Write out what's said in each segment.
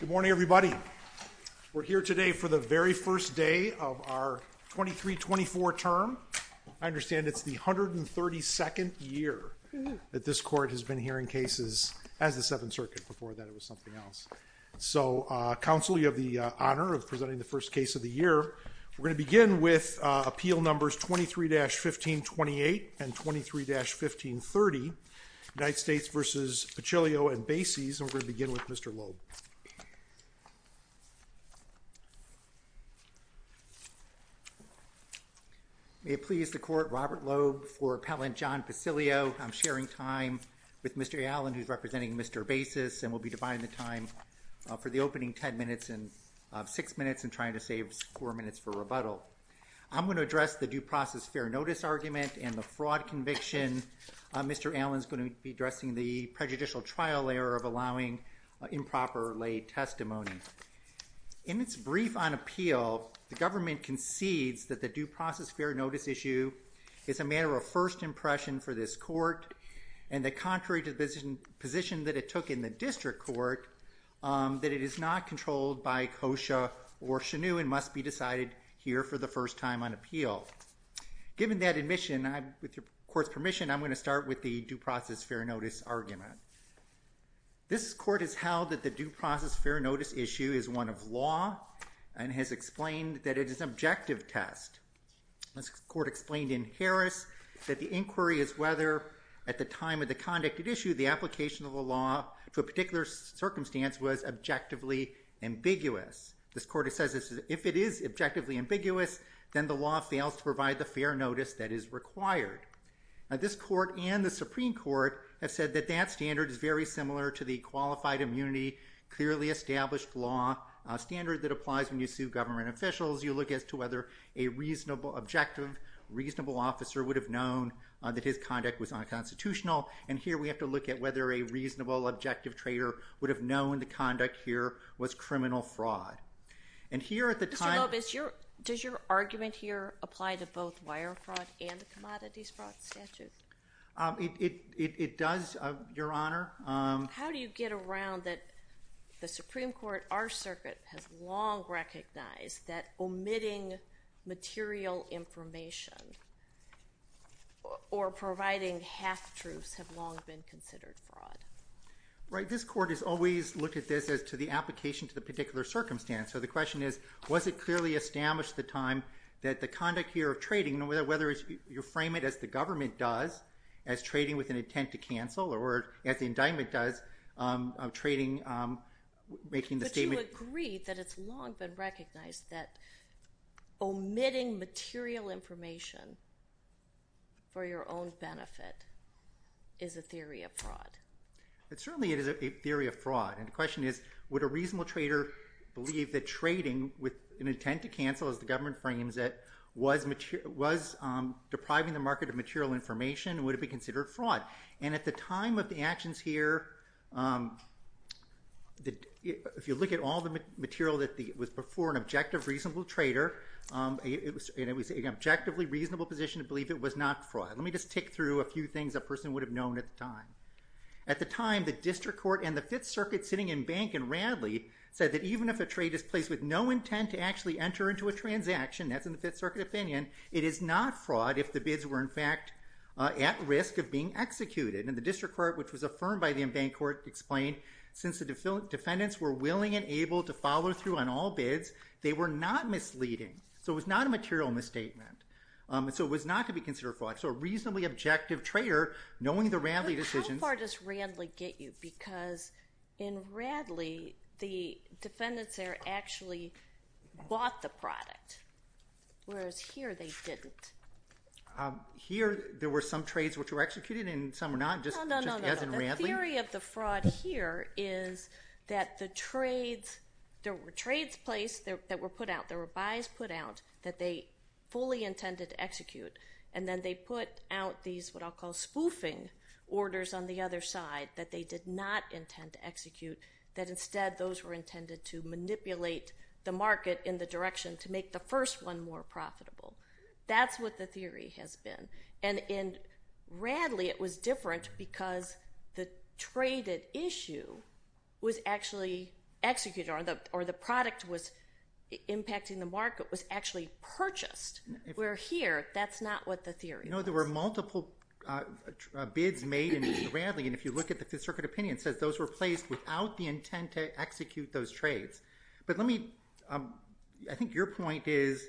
Good morning, everybody. We're here today for the very first day of our 23-24 term. I understand it's the 132nd year that this court has been hearing cases as the Seventh Circuit. Before that, it was something else. So, Counsel, you have the honor of presenting the first case of the year. We're going to begin with appeal numbers 23-1528 and 23-1530, United States v. Pacilio and Bases. We're going to begin with Mr. Loeb. May it please the Court, Robert Loeb for Appellant John Pacilio. I'm sharing time with Mr. Allen, who's representing Mr. Bases, and we'll be dividing the time for the opening ten minutes of six minutes and trying to save four minutes for rebuttal. I'm going to address the due process fair notice argument and the fraud conviction. Mr. Allen's going to be addressing the prejudicial trial error of allowing improper lay testimony. In its brief on appeal, the government concedes that the due process fair notice issue is a matter of first impression for this court and that, contrary to the position that it took in the district court, that it is not controlled by COSHA or CHNU and must be decided here for the first time on appeal. Given that admission, with your court's permission, I'm going to start with the due process fair notice argument. This court has held that the due process fair notice issue is one of law and has explained that it is an objective test. This court explained in Harris that the inquiry is whether, at the time of the conduct at issue, the application of the law to a particular circumstance was objectively ambiguous. This court says if it is objectively ambiguous, then the law fails to provide the fair notice that is required. This court and the Supreme Court have said that that standard is very similar to the qualified immunity, clearly established law standard that applies when you sue government officials. You look as to whether a reasonable objective, reasonable officer would have known that his conduct was unconstitutional. And here we have to look at whether a reasonable objective trader would have known the conduct here was criminal fraud. And here at the time… Mr. Lobes, does your argument here apply to both wire fraud and the commodities fraud statute? It does, Your Honor. How do you get around that the Supreme Court, our circuit, has long recognized that omitting material information or providing half-truths have long been considered fraud? Right. This court has always looked at this as to the application to the particular circumstance. So the question is, was it clearly established at the time that the conduct here of trading, whether you frame it as the government does, as trading with an intent to cancel, or as the indictment does, trading, making the statement… Do you agree that it's long been recognized that omitting material information for your own benefit is a theory of fraud? Certainly it is a theory of fraud. And the question is, would a reasonable trader believe that trading with an intent to cancel, as the government frames it, was depriving the market of material information, would it be considered fraud? And at the time of the actions here, if you look at all the material that was before an objective reasonable trader, it was an objectively reasonable position to believe it was not fraud. Let me just tick through a few things a person would have known at the time. At the time, the district court and the Fifth Circuit sitting in bank in Radley said that even if a trade is placed with no intent to actually enter into a transaction, that's in the Fifth Circuit opinion, it is not fraud if the bids were in fact at risk of being executed. And the district court, which was affirmed by the in-bank court, explained, since the defendants were willing and able to follow through on all bids, they were not misleading. So it was not a material misstatement. So it was not to be considered fraud. So a reasonably objective trader, knowing the Radley decision… Whereas here they didn't. Here there were some trades which were executed and some were not, just as in Radley? No, no, no. The theory of the fraud here is that the trades, there were trades placed that were put out, there were buys put out that they fully intended to execute, and then they put out these what I'll call spoofing orders on the other side that they did not intend to execute, that instead those were intended to manipulate the market in the direction to make the first one more profitable. That's what the theory has been. And in Radley it was different because the traded issue was actually executed, or the product was impacting the market, was actually purchased, where here that's not what the theory was. No, there were multiple bids made in Radley, and if you look at the Fifth Circuit opinion it says those were placed without the intent to execute those trades. But let me, I think your point is,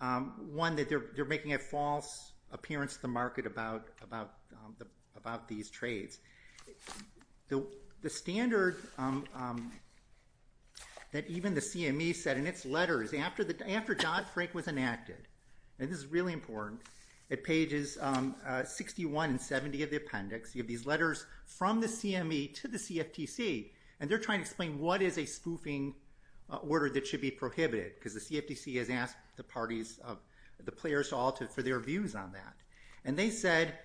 one, that they're making a false appearance to the market about these trades. The standard that even the CME said in its letters after Dodd-Frank was enacted, and this is really important, at pages 61 and 70 of the appendix you have these letters from the CME to the CFTC, and they're trying to explain what is a spoofing order that should be prohibited, because the CFTC has asked the parties, the players all for their views on that. And they said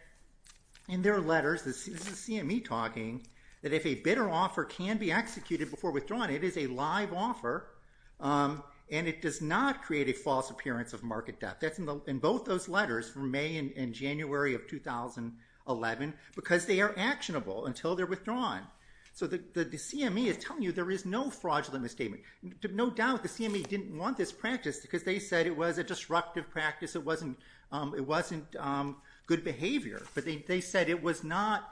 in their letters, this is the CME talking, that if a bid or offer can be executed before withdrawing, it is a live offer and it does not create a false appearance of market debt. That's in both those letters from May and January of 2011, because they are actionable until they're withdrawn. So the CME is telling you there is no fraudulent misstatement. No doubt the CME didn't want this practice because they said it was a disruptive practice, it wasn't good behavior, but they said it was not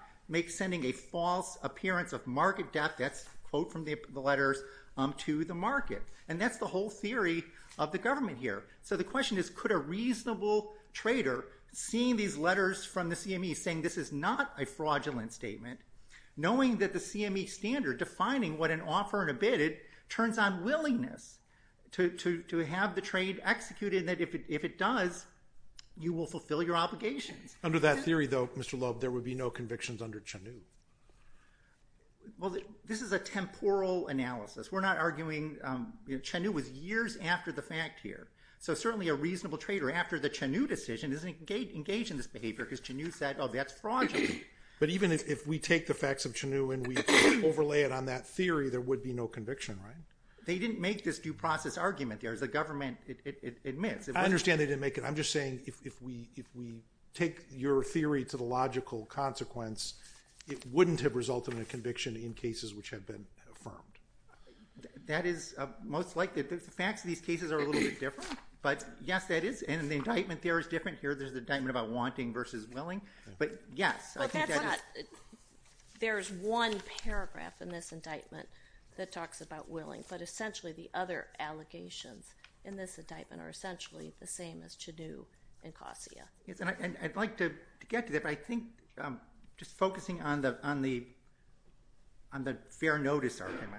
sending a false appearance of market debt, that's a quote from the letters, to the market. And that's the whole theory of the government here. So the question is, could a reasonable trader, seeing these letters from the CME saying this is not a fraudulent statement, knowing that the CME standard defining what an offer and a bid is, turns on willingness to have the trade executed and that if it does, you will fulfill your obligations. Under that theory, though, Mr. Loeb, there would be no convictions under CHNU. Well, this is a temporal analysis. We're not arguing – CHNU was years after the fact here. So certainly a reasonable trader after the CHNU decision doesn't engage in this behavior because CHNU said, oh, that's fraudulent. But even if we take the facts of CHNU and we overlay it on that theory, there would be no conviction, right? They didn't make this due process argument there, as the government admits. I understand they didn't make it. I'm just saying if we take your theory to the logical consequence, it wouldn't have resulted in a conviction in cases which have been affirmed. That is most likely. The facts of these cases are a little bit different. But yes, that is. And the indictment there is different. Here there's the indictment about wanting versus willing. But yes, I think that is – But that's not – there's one paragraph in this indictment that talks about willing. But essentially the other allegations in this indictment are essentially the same as CHNU and COSIA. I'd like to get to that, but I think just focusing on the fair notice argument.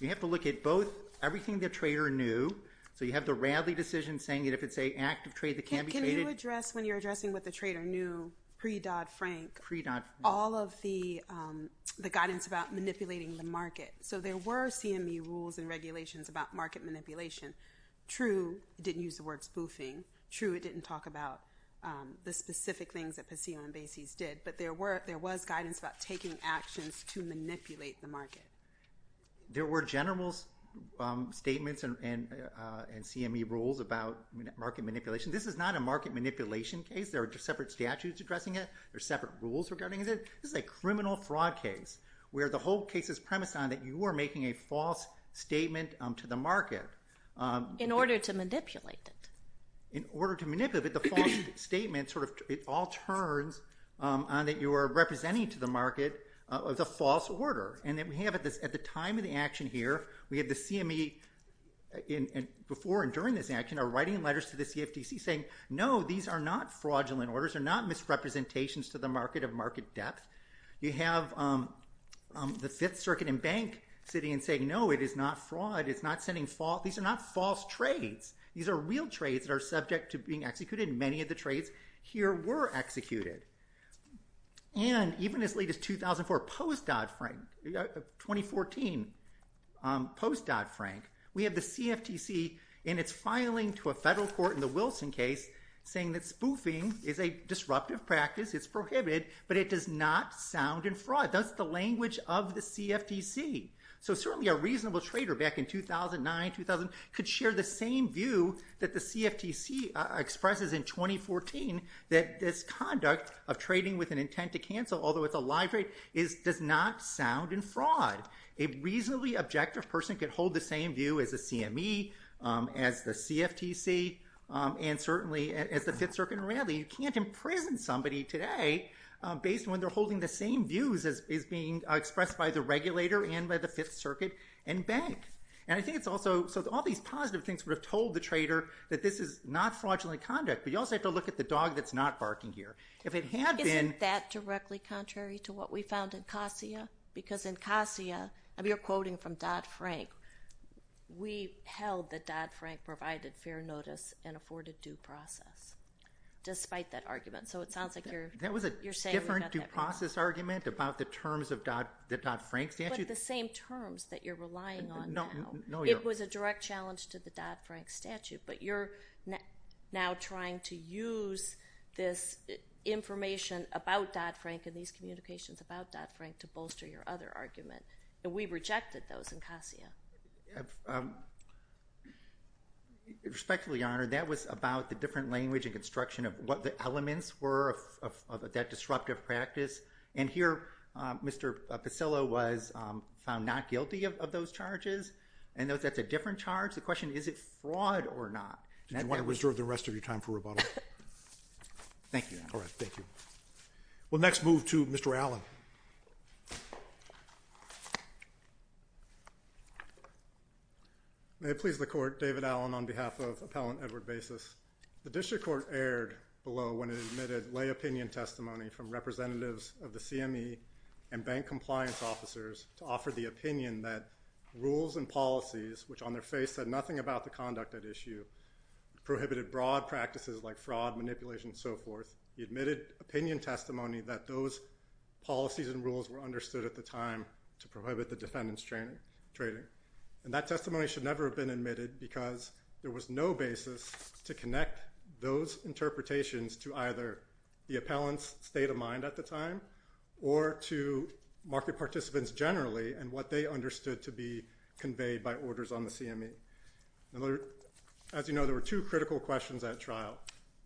You have to look at both everything the trader knew. So you have the Radley decision saying that if it's an active trade, it can be traded. Can you address when you're addressing what the trader knew pre-Dodd-Frank all of the guidance about manipulating the market? So there were CME rules and regulations about market manipulation. True, it didn't use the word spoofing. True, it didn't talk about the specific things that Paseo and Basie's did. But there was guidance about taking actions to manipulate the market. There were general statements and CME rules about market manipulation. This is not a market manipulation case. There are separate statutes addressing it. There are separate rules regarding it. This is a criminal fraud case where the whole case is premised on that you are making a false statement to the market. In order to manipulate it. In order to manipulate it, the false statement sort of all turns on that you are representing to the market the false order. And that we have at the time of the action here, we have the CME before and during this action are writing letters to the CFTC saying, no, these are not fraudulent orders. They're not misrepresentations to the market of market depth. You have the Fifth Circuit and Bank sitting and saying, no, it is not fraud. It's not sending false. These are not false trades. These are real trades that are subject to being executed. Many of the trades here were executed. And even as late as 2004, post-Dodd-Frank, 2014, post-Dodd-Frank, we have the CFTC in its filing to a federal court in the Wilson case saying that spoofing is a disruptive practice. It's prohibited. But it does not sound in fraud. That's the language of the CFTC. So certainly a reasonable trader back in 2009, 2000 could share the same view that the CFTC expresses in 2014 that this conduct of trading with an intent to cancel, although it's a live trade, does not sound in fraud. A reasonably objective person could hold the same view as the CME, as the CFTC, and certainly as the Fifth Circuit and Raleigh. You can't imprison somebody today based on when they're holding the same views as is being expressed by the regulator and by the Fifth Circuit and Bank. And I think it's also, so all these positive things would have told the trader that this is not fraudulent conduct. But you also have to look at the dog that's not barking here. If it had been- Isn't that directly contrary to what we found in COSIA? Because in COSIA, and we are quoting from Dodd-Frank, we held that Dodd-Frank provided fair notice and afforded due process. Despite that argument. So it sounds like you're- That was a different due process argument about the terms of the Dodd-Frank statute. But the same terms that you're relying on now. It was a direct challenge to the Dodd-Frank statute. But you're now trying to use this information about Dodd-Frank and these communications about Dodd-Frank to bolster your other argument. And we rejected those in COSIA. Respectfully, Your Honor, that was about the different language and construction of what the elements were of that disruptive practice. And here, Mr. Pisillo was found not guilty of those charges. And that's a different charge. The question, is it fraud or not? Do you want to reserve the rest of your time for rebuttal? Thank you, Your Honor. All right, thank you. We'll next move to Mr. Allen. May it please the Court, David Allen on behalf of Appellant Edward Basis. The District Court erred below when it admitted lay opinion testimony from representatives of the CME and bank compliance officers to offer the opinion that rules and policies, which on their face said nothing about the conduct at issue, prohibited broad practices like fraud, manipulation, and so forth. He admitted opinion testimony that those policies and rules were understood at the time to prohibit the defendant's trading. And that testimony should never have been admitted because there was no basis to connect those interpretations to either the appellant's state of mind at the time or to market participants generally and what they understood to be conveyed by orders on the CME. As you know, there were two critical questions at trial.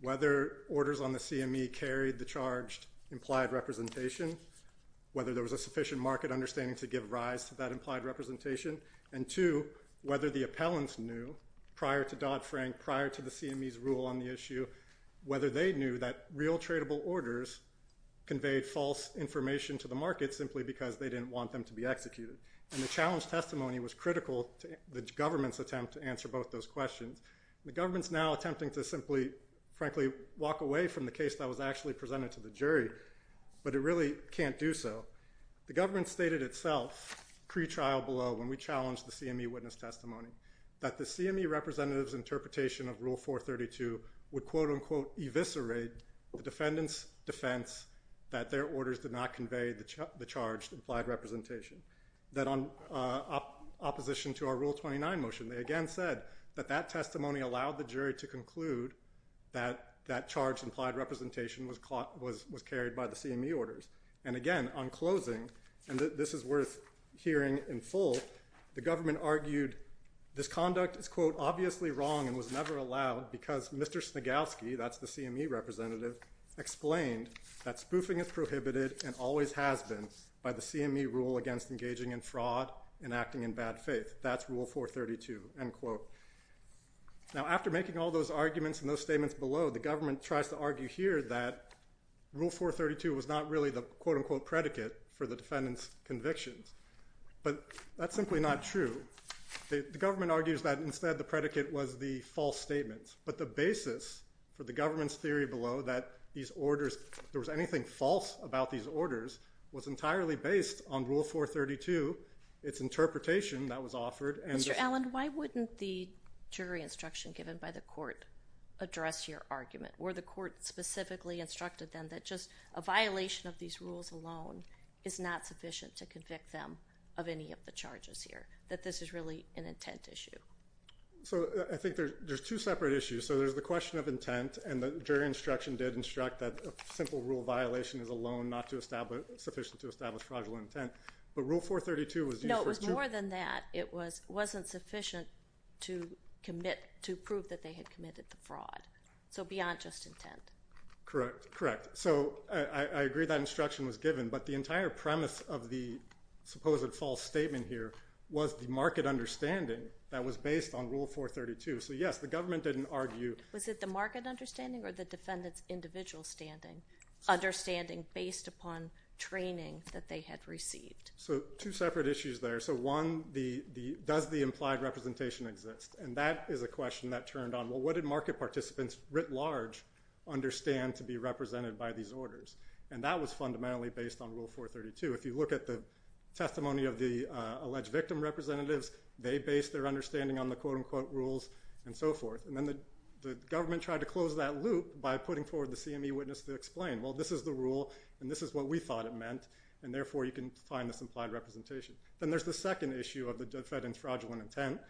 Whether orders on the CME carried the charged implied representation, whether there was a sufficient market understanding to give rise to that implied representation, and two, whether the appellants knew prior to Dodd-Frank, prior to the CME's rule on the issue, whether they knew that real tradable orders conveyed false information to the market simply because they didn't want them to be executed. And the challenge testimony was critical to the government's attempt to answer both those questions. The government's now attempting to simply, frankly, walk away from the case that was actually presented to the jury, but it really can't do so. The government stated itself pre-trial below when we challenged the CME witness testimony that the CME representative's interpretation of Rule 432 would quote-unquote eviscerate the defendant's defense that their orders did not convey the charged implied representation. That on opposition to our Rule 29 motion, they again said that that testimony allowed the jury to conclude that that charged implied representation was carried by the CME orders. And again, on closing, and this is worth hearing in full, the government argued this conduct is quote obviously wrong and was never allowed because Mr. Snigowski, that's the CME representative, explained that spoofing is prohibited and always has been by the CME rule against engaging in fraud and acting in bad faith. That's Rule 432, end quote. Now, after making all those arguments and those statements below, the government tries to argue here that Rule 432 was not really the quote-unquote predicate for the defendant's convictions. But that's simply not true. The government argues that instead the predicate was the false statement. But the basis for the government's theory below that these orders, if there was anything false about these orders, was entirely based on Rule 432, its interpretation that was offered. Mr. Allen, why wouldn't the jury instruction given by the court address your argument? Were the court specifically instructed then that just a violation of these rules alone is not sufficient to convict them of any of the charges here, that this is really an intent issue? So I think there's two separate issues. So there's the question of intent, and the jury instruction did instruct that a simple rule violation is alone not sufficient to establish fraudulent intent. But Rule 432 was used for two… But more than that, it wasn't sufficient to commit, to prove that they had committed the fraud. So beyond just intent. Correct, correct. So I agree that instruction was given, but the entire premise of the supposed false statement here was the market understanding that was based on Rule 432. So yes, the government didn't argue… Was it the market understanding or the defendant's individual standing? Understanding based upon training that they had received. So two separate issues there. So one, does the implied representation exist? And that is a question that turned on, well, what did market participants writ large understand to be represented by these orders? And that was fundamentally based on Rule 432. If you look at the testimony of the alleged victim representatives, they based their understanding on the quote-unquote rules and so forth. And then the government tried to close that loop by putting forward the CME witness to explain, well, this is the rule, and this is what we thought it meant, and therefore you can find this implied representation. Then there's the second issue of the defendant's fraudulent intent,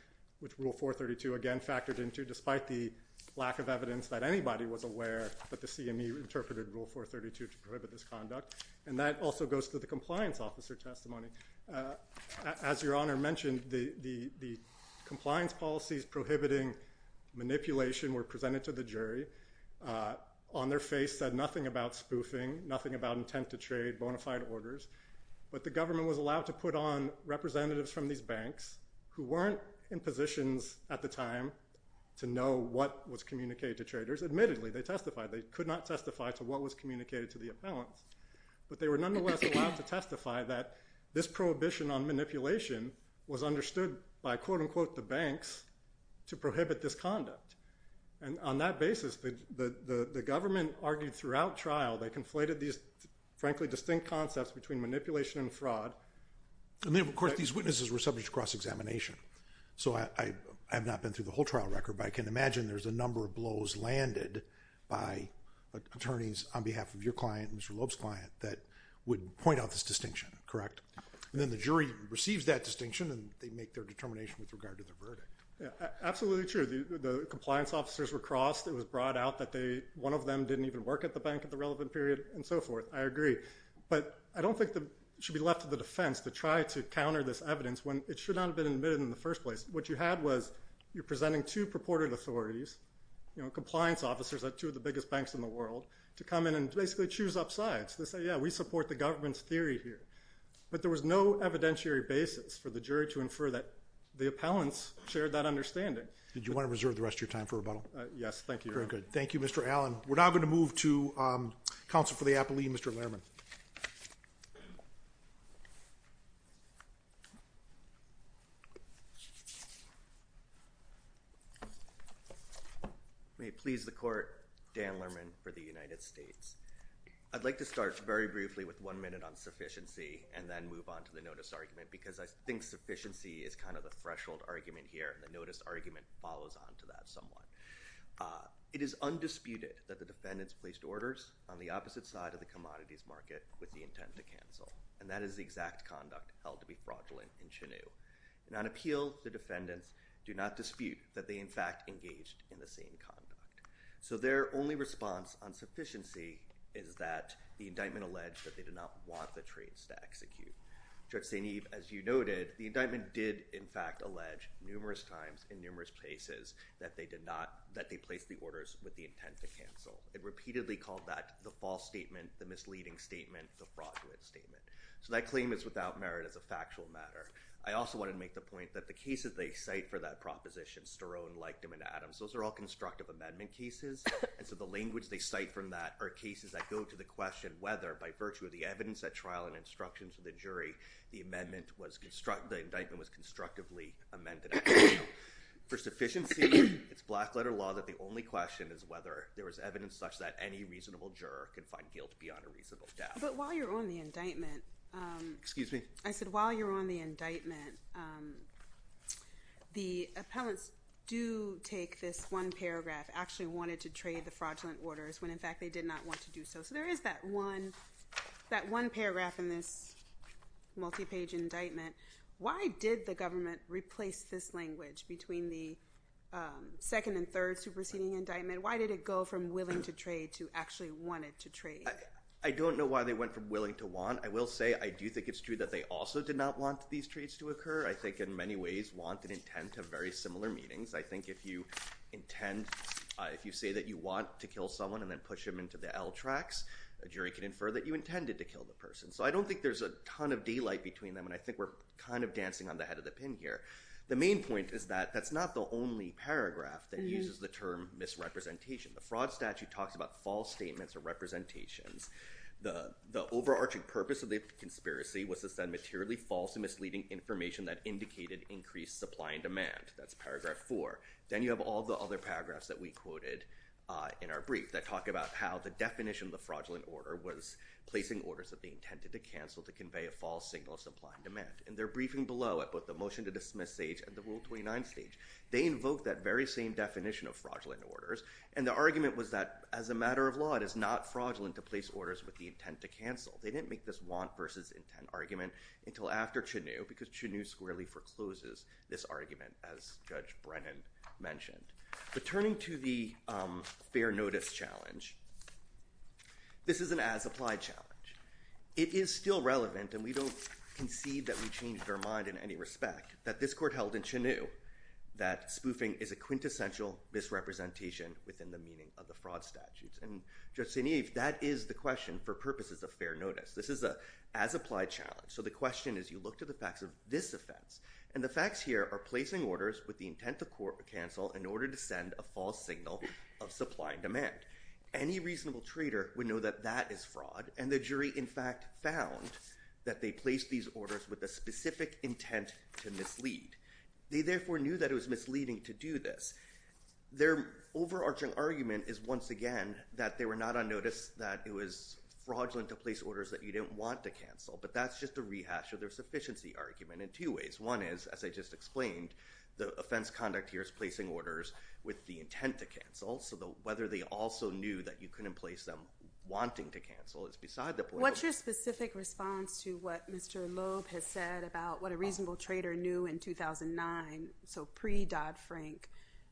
which Rule 432, again, factored into, despite the lack of evidence that anybody was aware that the CME interpreted Rule 432 to prohibit this conduct. And that also goes to the compliance officer testimony. As Your Honor mentioned, the compliance policies prohibiting manipulation were presented to the jury. On their face said nothing about spoofing, nothing about intent to trade, bona fide orders. But the government was allowed to put on representatives from these banks who weren't in positions at the time to know what was communicated to traders. Admittedly, they testified. They could not testify to what was communicated to the appellants. But they were nonetheless allowed to testify that this prohibition on manipulation was understood by quote-unquote the banks to prohibit this conduct. And on that basis, the government argued throughout trial they conflated these, frankly, distinct concepts between manipulation and fraud. And then, of course, these witnesses were subject to cross-examination. So I have not been through the whole trial record, but I can imagine there's a number of blows landed by attorneys on behalf of your client, Mr. Loeb's client, that would point out this distinction, correct? And then the jury receives that distinction, and they make their determination with regard to the verdict. Absolutely true. The compliance officers were crossed. It was brought out that one of them didn't even work at the bank at the relevant period and so forth. I agree. But I don't think it should be left to the defense to try to counter this evidence when it should not have been admitted in the first place. What you had was you're presenting two purported authorities, compliance officers at two of the biggest banks in the world, to come in and basically choose up sides. They say, yeah, we support the government's theory here. But there was no evidentiary basis for the jury to infer that the appellants shared that understanding. Okay. Did you want to reserve the rest of your time for rebuttal? Thank you, Your Honor. Very good. Thank you, Mr. Allen. We're now going to move to counsel for the appellee, Mr. Lehrman. May it please the Court, Dan Lehrman for the United States. I'd like to start very briefly with one minute on sufficiency and then move on to the notice argument, because I think sufficiency is kind of the threshold argument here, and the notice argument follows on to that somewhat. It is undisputed that the defendants placed orders on the opposite side of the commodities market with the intent to cancel, and that is the exact conduct held to be fraudulent in Chinoo. And on appeal, the defendants do not dispute that they, in fact, engaged in the same conduct. So their only response on sufficiency is that the indictment alleged that they did not want the trades to execute. Judge St. Eve, as you noted, the indictment did, in fact, allege numerous times in numerous places that they placed the orders with the intent to cancel. It repeatedly called that the false statement, the misleading statement, the fraudulent statement. So that claim is without merit as a factual matter. I also wanted to make the point that the cases they cite for that proposition, Sterone, Likedom, and Adams, those are all constructive amendment cases, and so the language they cite from that are cases that go to the question whether, by virtue of the evidence at trial and instructions from the jury, the indictment was constructively amended at trial. For sufficiency, it's black-letter law that the only question is whether there is evidence such that any reasonable juror can find guilt beyond a reasonable doubt. But while you're on the indictment... Excuse me? I said while you're on the indictment, the appellants do take this one paragraph, actually wanted to trade the fraudulent orders when, in fact, they did not want to do so. So there is that one paragraph in this multi-page indictment. Why did the government replace this language between the second and third superseding indictment? I don't know why they went from willing to want. I will say I do think it's true that they also did not want these trades to occur. I think in many ways want and intend to have very similar meanings. I think if you intend, if you say that you want to kill someone and then push them into the L tracks, a jury can infer that you intended to kill the person. So I don't think there's a ton of daylight between them, and I think we're kind of dancing on the head of the pin here. The main point is that that's not the only paragraph that uses the term misrepresentation. The fraud statute talks about false statements or representations. The overarching purpose of the conspiracy was to send materially false and misleading information that indicated increased supply and demand. That's paragraph four. Then you have all the other paragraphs that we quoted in our brief that talk about how the definition of the fraudulent order was placing orders that they intended to cancel to convey a false signal of supply and demand. And they're briefing below at both the motion to dismiss stage and the Rule 29 stage. They invoke that very same definition of fraudulent orders, and the argument was that as a matter of law, it is not fraudulent to place orders with the intent to cancel. They didn't make this want versus intent argument until after Chenew because Chenew squarely forecloses this argument, as Judge Brennan mentioned. But turning to the fair notice challenge, this is an as-applied challenge. It is still relevant, and we don't concede that we changed our mind in any respect, that this court held in Chenew that spoofing is a quintessential misrepresentation within the meaning of the fraud statutes. And Judge St-Yves, that is the question for purposes of fair notice. This is an as-applied challenge. So the question is you look to the facts of this offense, and the facts here are placing orders with the intent to cancel in order to send a false signal of supply and demand. Any reasonable trader would know that that is fraud, and the jury in fact found that they placed these orders with a specific intent to mislead. They therefore knew that it was misleading to do this. Their overarching argument is once again that they were not on notice that it was fraudulent to place orders that you didn't want to cancel, but that's just a rehash of their sufficiency argument in two ways. One is, as I just explained, the offense conduct here is placing orders with the intent to cancel, so whether they also knew that you couldn't place them wanting to cancel is beside the point. What's your specific response to what Mr. Loeb has said about what a reasonable trader knew in 2009, so pre-Dodd-Frank,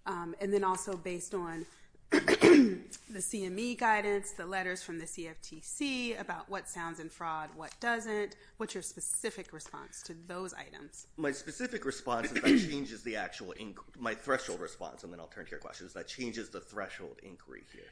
and then also based on the CME guidance, the letters from the CFTC about what sounds in fraud, what doesn't? What's your specific response to those items? My specific response is that changes the actual – my threshold response, and then I'll turn to your questions. That changes the threshold inquiry here.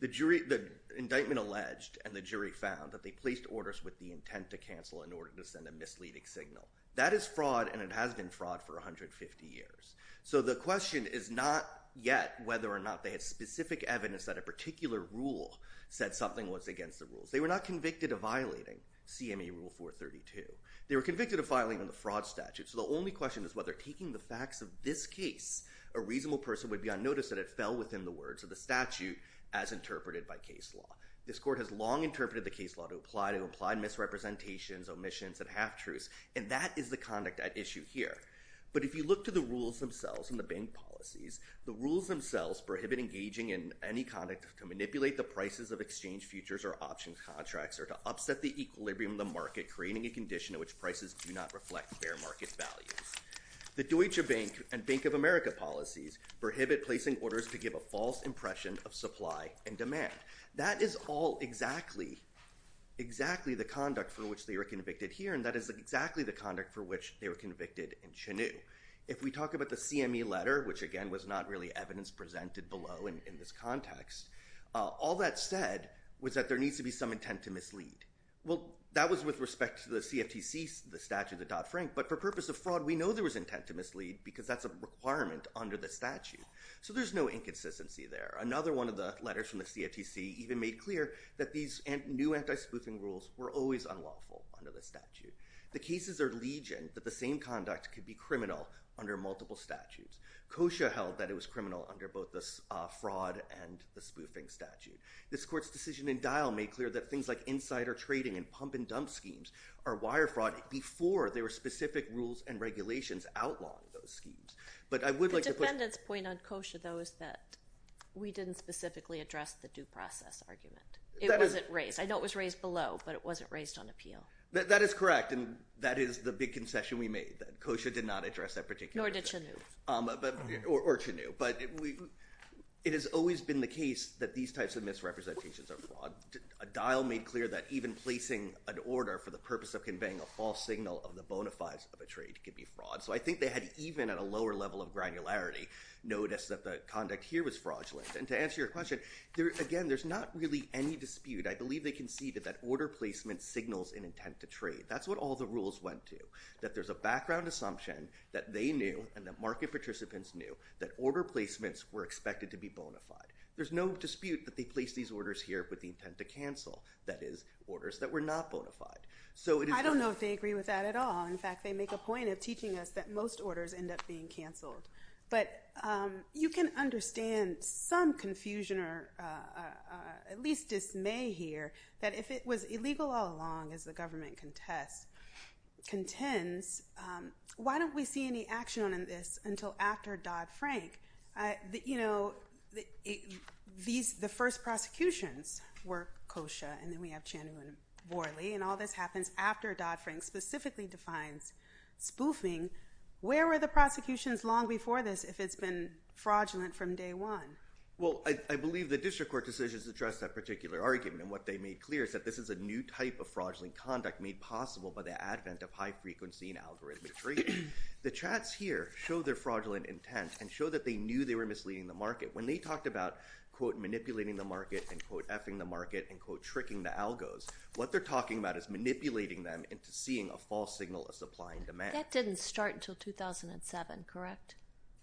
The jury – the indictment alleged and the jury found that they placed orders with the intent to cancel in order to send a misleading signal. That is fraud, and it has been fraud for 150 years. So the question is not yet whether or not they have specific evidence that a particular rule said something was against the rules. They were not convicted of violating CME Rule 432. They were convicted of violating the fraud statute, so the only question is whether taking the facts of this case, a reasonable person would be unnoticed and it fell within the words of the statute as interpreted by case law. This court has long interpreted the case law to apply to implied misrepresentations, omissions, and half-truths, and that is the conduct at issue here. But if you look to the rules themselves and the bank policies, the rules themselves prohibit engaging in any conduct to manipulate the prices of exchange futures or options contracts or to upset the equilibrium of the market, creating a condition in which prices do not reflect fair market values. The Deutsche Bank and Bank of America policies prohibit placing orders to give a false impression of supply and demand. That is all exactly the conduct for which they were convicted here, and that is exactly the conduct for which they were convicted in Chinoo. If we talk about the CME letter, which again was not really evidence presented below in this context, all that said was that there needs to be some intent to mislead. Well, that was with respect to the CFTC, the statute of Dodd-Frank, but for purpose of fraud, we know there was intent to mislead because that's a requirement under the statute. So there's no inconsistency there. Another one of the letters from the CFTC even made clear that these new anti-spoofing rules were always unlawful under the statute. The cases are legion that the same conduct could be criminal under multiple statutes. Kosher held that it was criminal under both the fraud and the spoofing statute. This court's decision in Dial made clear that things like insider trading and pump-and-dump schemes are wire fraud before there were specific rules and regulations outlawing those schemes. The defendant's point on Kosher, though, is that we didn't specifically address the due process argument. It wasn't raised. I know it was raised below, but it wasn't raised on appeal. That is correct, and that is the big concession we made, that Kosher did not address that particular issue. Nor did Chinoo. Or Chinoo. But it has always been the case that these types of misrepresentations are fraud. Dial made clear that even placing an order for the purpose of conveying a false signal of the bona fides of a trade could be fraud. So I think they had even at a lower level of granularity noticed that the conduct here was fraudulent. And to answer your question, again, there's not really any dispute. I believe they conceded that order placement signals an intent to trade. That's what all the rules went to, that there's a background assumption that they knew and that market participants knew that order placements were expected to be bona fide. There's no dispute that they placed these orders here with the intent to cancel, that is, orders that were not bona fide. I don't know if they agree with that at all. In fact, they make a point of teaching us that most orders end up being canceled. But you can understand some confusion or at least dismay here that if it was illegal all along, as the government contends, why don't we see any action on this until after Dodd-Frank? You know, the first prosecutions were kosher, and then we have Chanu and Worley, and all this happens after Dodd-Frank specifically defines spoofing. Where were the prosecutions long before this if it's been fraudulent from day one? Well, I believe the district court decisions address that particular argument. And what they made clear is that this is a new type of fraudulent conduct made possible by the advent of high-frequency and algorithmic trading. The chats here show their fraudulent intent and show that they knew they were misleading the market. When they talked about, quote, manipulating the market and, quote, effing the market and, quote, tricking the algos, what they're talking about is manipulating them into seeing a false signal of supply and demand. That didn't start until 2007, correct,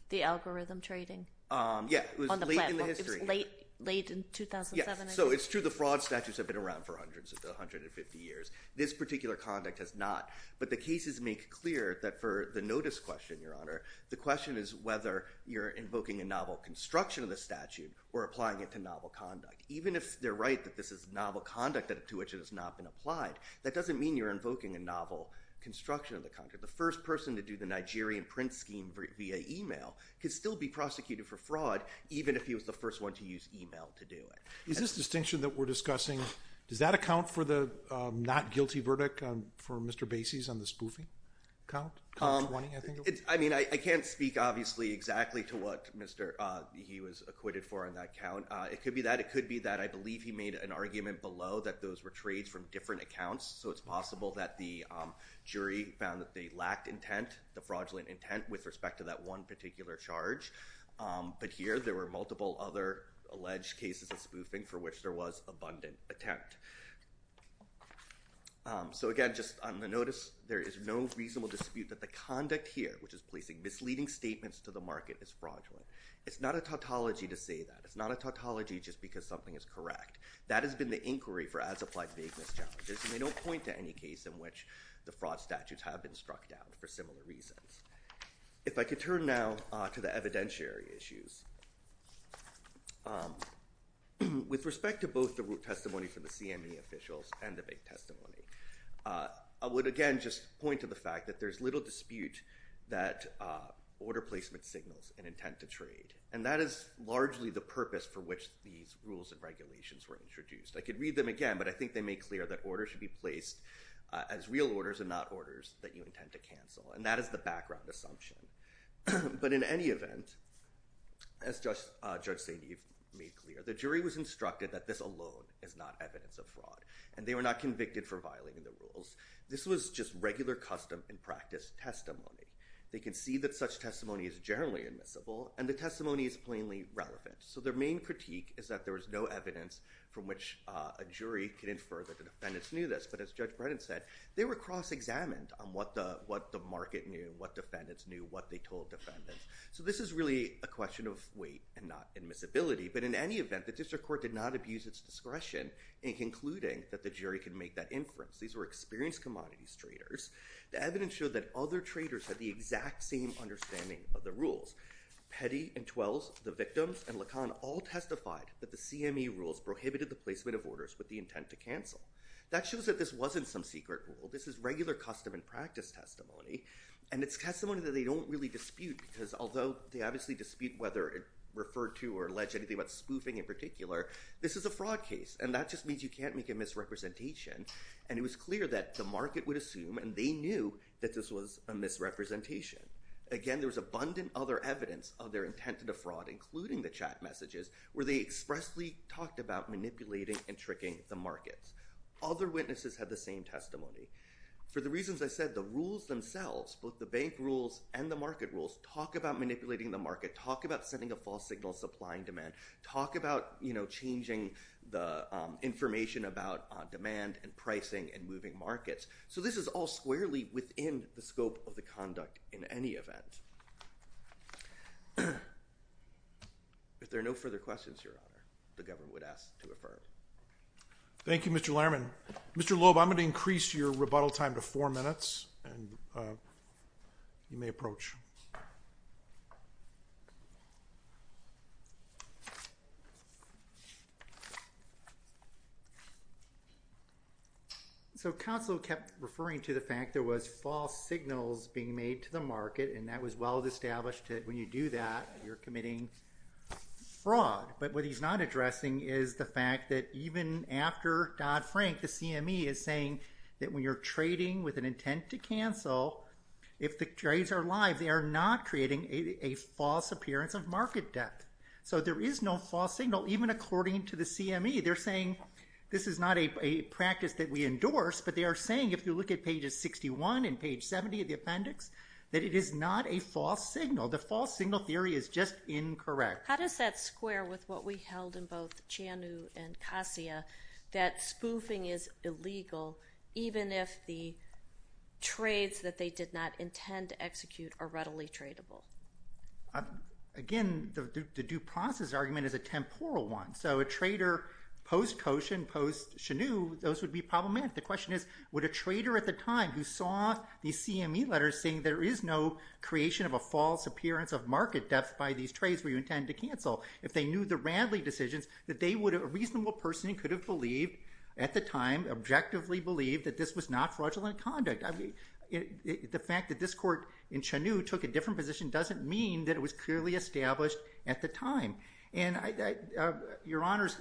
the algorithm trading on the platform? Yeah, it was late in the history. It was late in 2007, I think. Yeah, so it's true. The fraud statutes have been around for hundreds of – 150 years. This particular conduct has not. But the cases make clear that for the notice question, Your Honor, the question is whether you're invoking a novel construction of the statute or applying it to novel conduct. Even if they're right that this is novel conduct to which it has not been applied, that doesn't mean you're invoking a novel construction of the conduct. The first person to do the Nigerian print scheme via email could still be prosecuted for fraud even if he was the first one to use email to do it. Is this distinction that we're discussing – does that account for the not guilty verdict for Mr. Bacy's on the spoofing count, count 20, I think? I mean, I can't speak, obviously, exactly to what Mr. – he was acquitted for on that count. It could be that. It could be that. I believe he made an argument below that those were trades from different accounts, so it's possible that the jury found that they lacked intent, the fraudulent intent, with respect to that one particular charge. But here there were multiple other alleged cases of spoofing for which there was abundant attempt. So, again, just on the notice, there is no reasonable dispute that the conduct here, which is placing misleading statements to the market, is fraudulent. It's not a tautology to say that. It's not a tautology just because something is correct. That has been the inquiry for as-applied vagueness challenges, and they don't point to any case in which the fraud statutes have been struck down for similar reasons. If I could turn now to the evidentiary issues. With respect to both the root testimony from the CME officials and the big testimony, I would, again, just point to the fact that there's little dispute that order placement signals an intent to trade. And that is largely the purpose for which these rules and regulations were introduced. I could read them again, but I think they make clear that orders should be placed as real orders and not orders that you intend to cancel. And that is the background assumption. But in any event, as Judge St. Eve made clear, the jury was instructed that this alone is not evidence of fraud, and they were not convicted for violating the rules. This was just regular custom and practice testimony. They can see that such testimony is generally admissible, and the testimony is plainly relevant. So their main critique is that there is no evidence from which a jury can infer that the defendants knew this. But as Judge Brennan said, they were cross-examined on what the market knew, what defendants knew, what they told defendants. So this is really a question of weight and not admissibility. But in any event, the district court did not abuse its discretion in concluding that the jury could make that inference. These were experienced commodities traders. The evidence showed that other traders had the exact same understanding of the rules. Petty and Twelves, the victims, and Lacan all testified that the CME rules prohibited the placement of orders with the intent to cancel. That shows that this wasn't some secret rule. This is regular custom and practice testimony, and it's testimony that they don't really dispute, because although they obviously dispute whether it referred to or alleged anything about spoofing in particular, this is a fraud case, and that just means you can't make a misrepresentation. And it was clear that the market would assume, and they knew, that this was a misrepresentation. Again, there was abundant other evidence of their intent to defraud, including the chat messages, where they expressly talked about manipulating and tricking the markets. Other witnesses had the same testimony. For the reasons I said, the rules themselves, both the bank rules and the market rules, talk about manipulating the market, talk about sending a false signal supplying demand, talk about changing the information about demand and pricing and moving markets. So this is all squarely within the scope of the conduct in any event. If there are no further questions, Your Honor, the government would ask to affirm. Thank you, Mr. Lerman. Mr. Loeb, I'm going to increase your rebuttal time to four minutes, and you may approach. So counsel kept referring to the fact there was false signals being made to the market, and that was well established that when you do that, you're committing fraud. But what he's not addressing is the fact that even after Dodd-Frank, the CME is saying that when you're trading with an intent to cancel, if the trades are live, they are not creating a false appearance of market debt. So there is no false signal, even according to the CME. But they are saying, if you look at pages 61 and page 70 of the appendix, that it is not a false signal. The false signal theory is just incorrect. How does that square with what we held in both Chianu and Kassia, that spoofing is illegal even if the trades that they did not intend to execute are readily tradable? Again, the due process argument is a temporal one. So a trader post-Koshen, post-Chianu, those would be problematic. The question is, would a trader at the time who saw these CME letters saying there is no creation of a false appearance of market debt by these trades where you intend to cancel, if they knew the Radley decisions, that they would have a reasonable person who could have believed at the time, objectively believed, that this was not fraudulent conduct? The fact that this court in Chianu took a different position doesn't mean that it was clearly established at the time. Your Honor's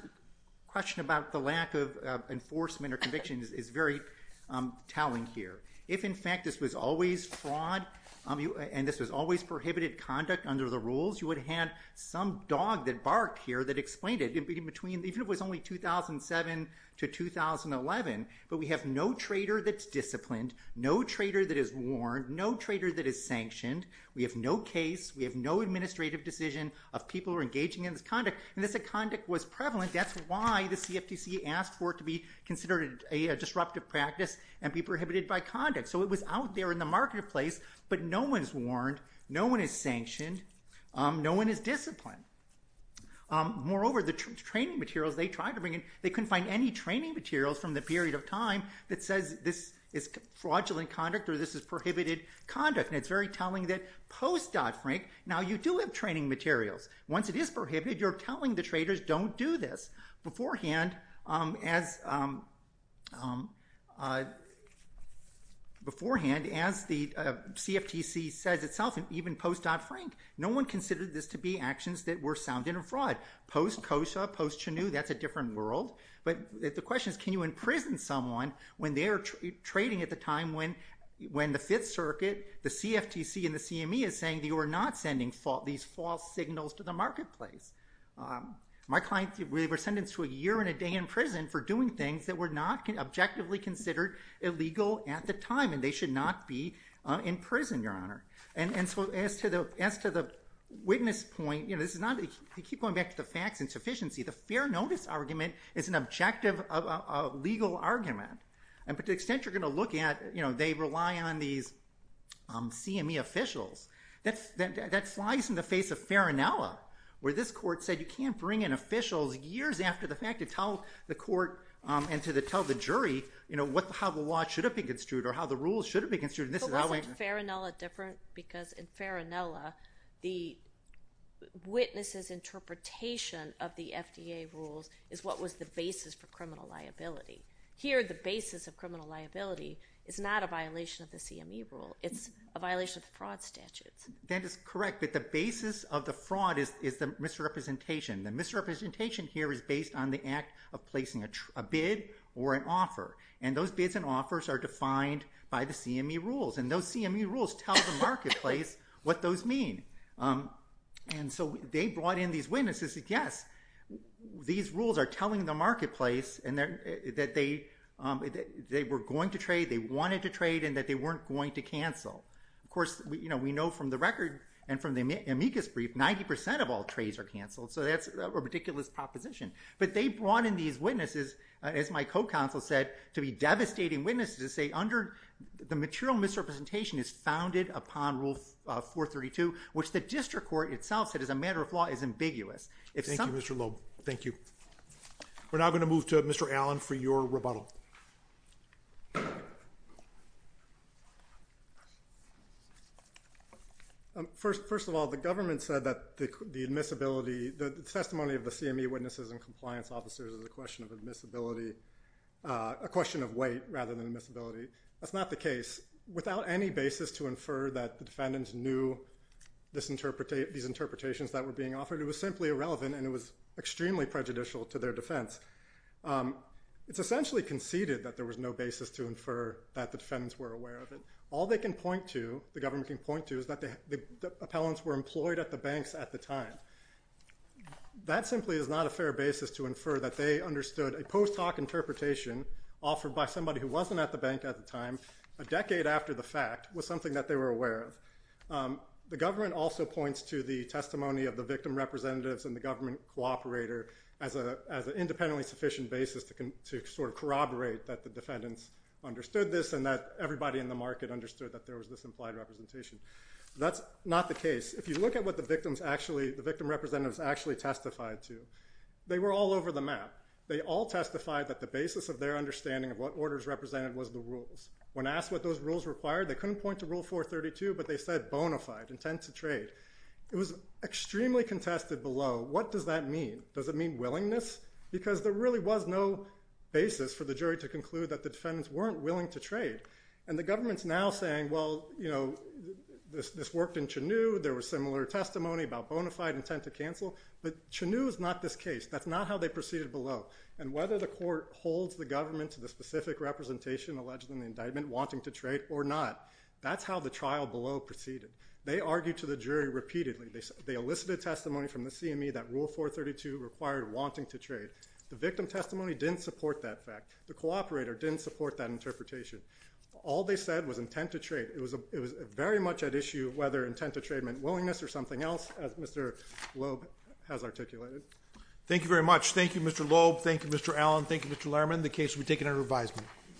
question about the lack of enforcement or conviction is very telling here. If, in fact, this was always fraud and this was always prohibited conduct under the rules, you would have had some dog that barked here that explained it, even if it was only 2007 to 2011. But we have no trader that's disciplined, no trader that is warned, no trader that is sanctioned. We have no case, we have no administrative decision of people who are engaging in this conduct. And this conduct was prevalent. That's why the CFTC asked for it to be considered a disruptive practice and be prohibited by conduct. So it was out there in the marketplace, but no one is warned, no one is sanctioned, no one is disciplined. Moreover, the training materials they tried to bring in, they couldn't find any training materials from the period of time that says this is fraudulent conduct or this is prohibited conduct. It's very telling that post-Dodd-Frank, now you do have training materials. Once it is prohibited, you're telling the traders don't do this. Beforehand, as the CFTC says itself, even post-Dodd-Frank, no one considered this to be actions that were sound and a fraud. Post-Kosha, post-Chenew, that's a different world. But the question is can you imprison someone when they're trading at the time when the Fifth Circuit, the CFTC, and the CME is saying that you are not sending these false signals to the marketplace? My client, we were sentenced to a year and a day in prison for doing things that were not objectively considered illegal at the time, and they should not be in prison, Your Honor. And so as to the witness point, you keep going back to the facts and sufficiency. The fair notice argument is an objective legal argument. But to the extent you're going to look at they rely on these CME officials, that flies in the face of Farinella, where this court said you can't bring in officials years after the fact to tell the court and to tell the jury how the law should have been construed or how the rules should have been construed. But wasn't Farinella different? Because in Farinella, the witness's interpretation of the FDA rules is what was the basis for criminal liability. Here, the basis of criminal liability is not a violation of the CME rule. It's a violation of the fraud statutes. That is correct, but the basis of the fraud is the misrepresentation. The misrepresentation here is based on the act of placing a bid or an offer, and those bids and offers are defined by the CME rules, and those CME rules tell the marketplace what those mean. And so they brought in these witnesses and said, yes, these rules are telling the marketplace that they were going to trade, they wanted to trade, and that they weren't going to cancel. Of course, we know from the record and from the amicus brief, 90% of all trades are canceled, so that's a ridiculous proposition. But they brought in these witnesses, as my co-counsel said, to be devastating witnesses and say under the material misrepresentation is founded upon Rule 432, which the district court itself said as a matter of law is ambiguous. Thank you, Mr. Loeb. Thank you. We're now going to move to Mr. Allen for your rebuttal. First of all, the government said that the admissibility, the testimony of the CME witnesses and compliance officers is a question of admissibility, a question of weight rather than admissibility. That's not the case. Without any basis to infer that the defendants knew these interpretations that were being offered, it was simply irrelevant and it was extremely prejudicial to their defense. It's essentially conceded that there was no basis to infer that the defendants were aware of it. All they can point to, the government can point to, is that the appellants were employed at the banks at the time. That simply is not a fair basis to infer that they understood a post hoc interpretation offered by somebody who wasn't at the bank at the time a decade after the fact was something that they were aware of. The government also points to the testimony of the victim representatives and the government cooperator as an independently sufficient basis to sort of corroborate that the defendants understood this and that everybody in the market understood that there was this implied representation. That's not the case. If you look at what the victim representatives actually testified to, they were all over the map. They all testified that the basis of their understanding of what orders represented was the rules. When asked what those rules required, they couldn't point to Rule 432, but they said bona fide, intent to trade. It was extremely contested below. What does that mean? Does it mean willingness? Because there really was no basis for the jury to conclude that the defendants weren't willing to trade. And the government's now saying, well, you know, this worked in Chenew. There was similar testimony about bona fide intent to cancel. But Chenew is not this case. That's not how they proceeded below. And whether the court holds the government to the specific representation alleged in the indictment, wanting to trade or not, that's how the trial below proceeded. They argued to the jury repeatedly. They elicited testimony from the CME that Rule 432 required wanting to trade. The victim testimony didn't support that fact. The cooperator didn't support that interpretation. All they said was intent to trade. It was very much at issue whether intent to trade meant willingness or something else, as Mr. Loeb has articulated. Thank you very much. Thank you, Mr. Loeb. Thank you, Mr. Allen. Thank you, Mr. Lehrman. The case will be taken under revisement.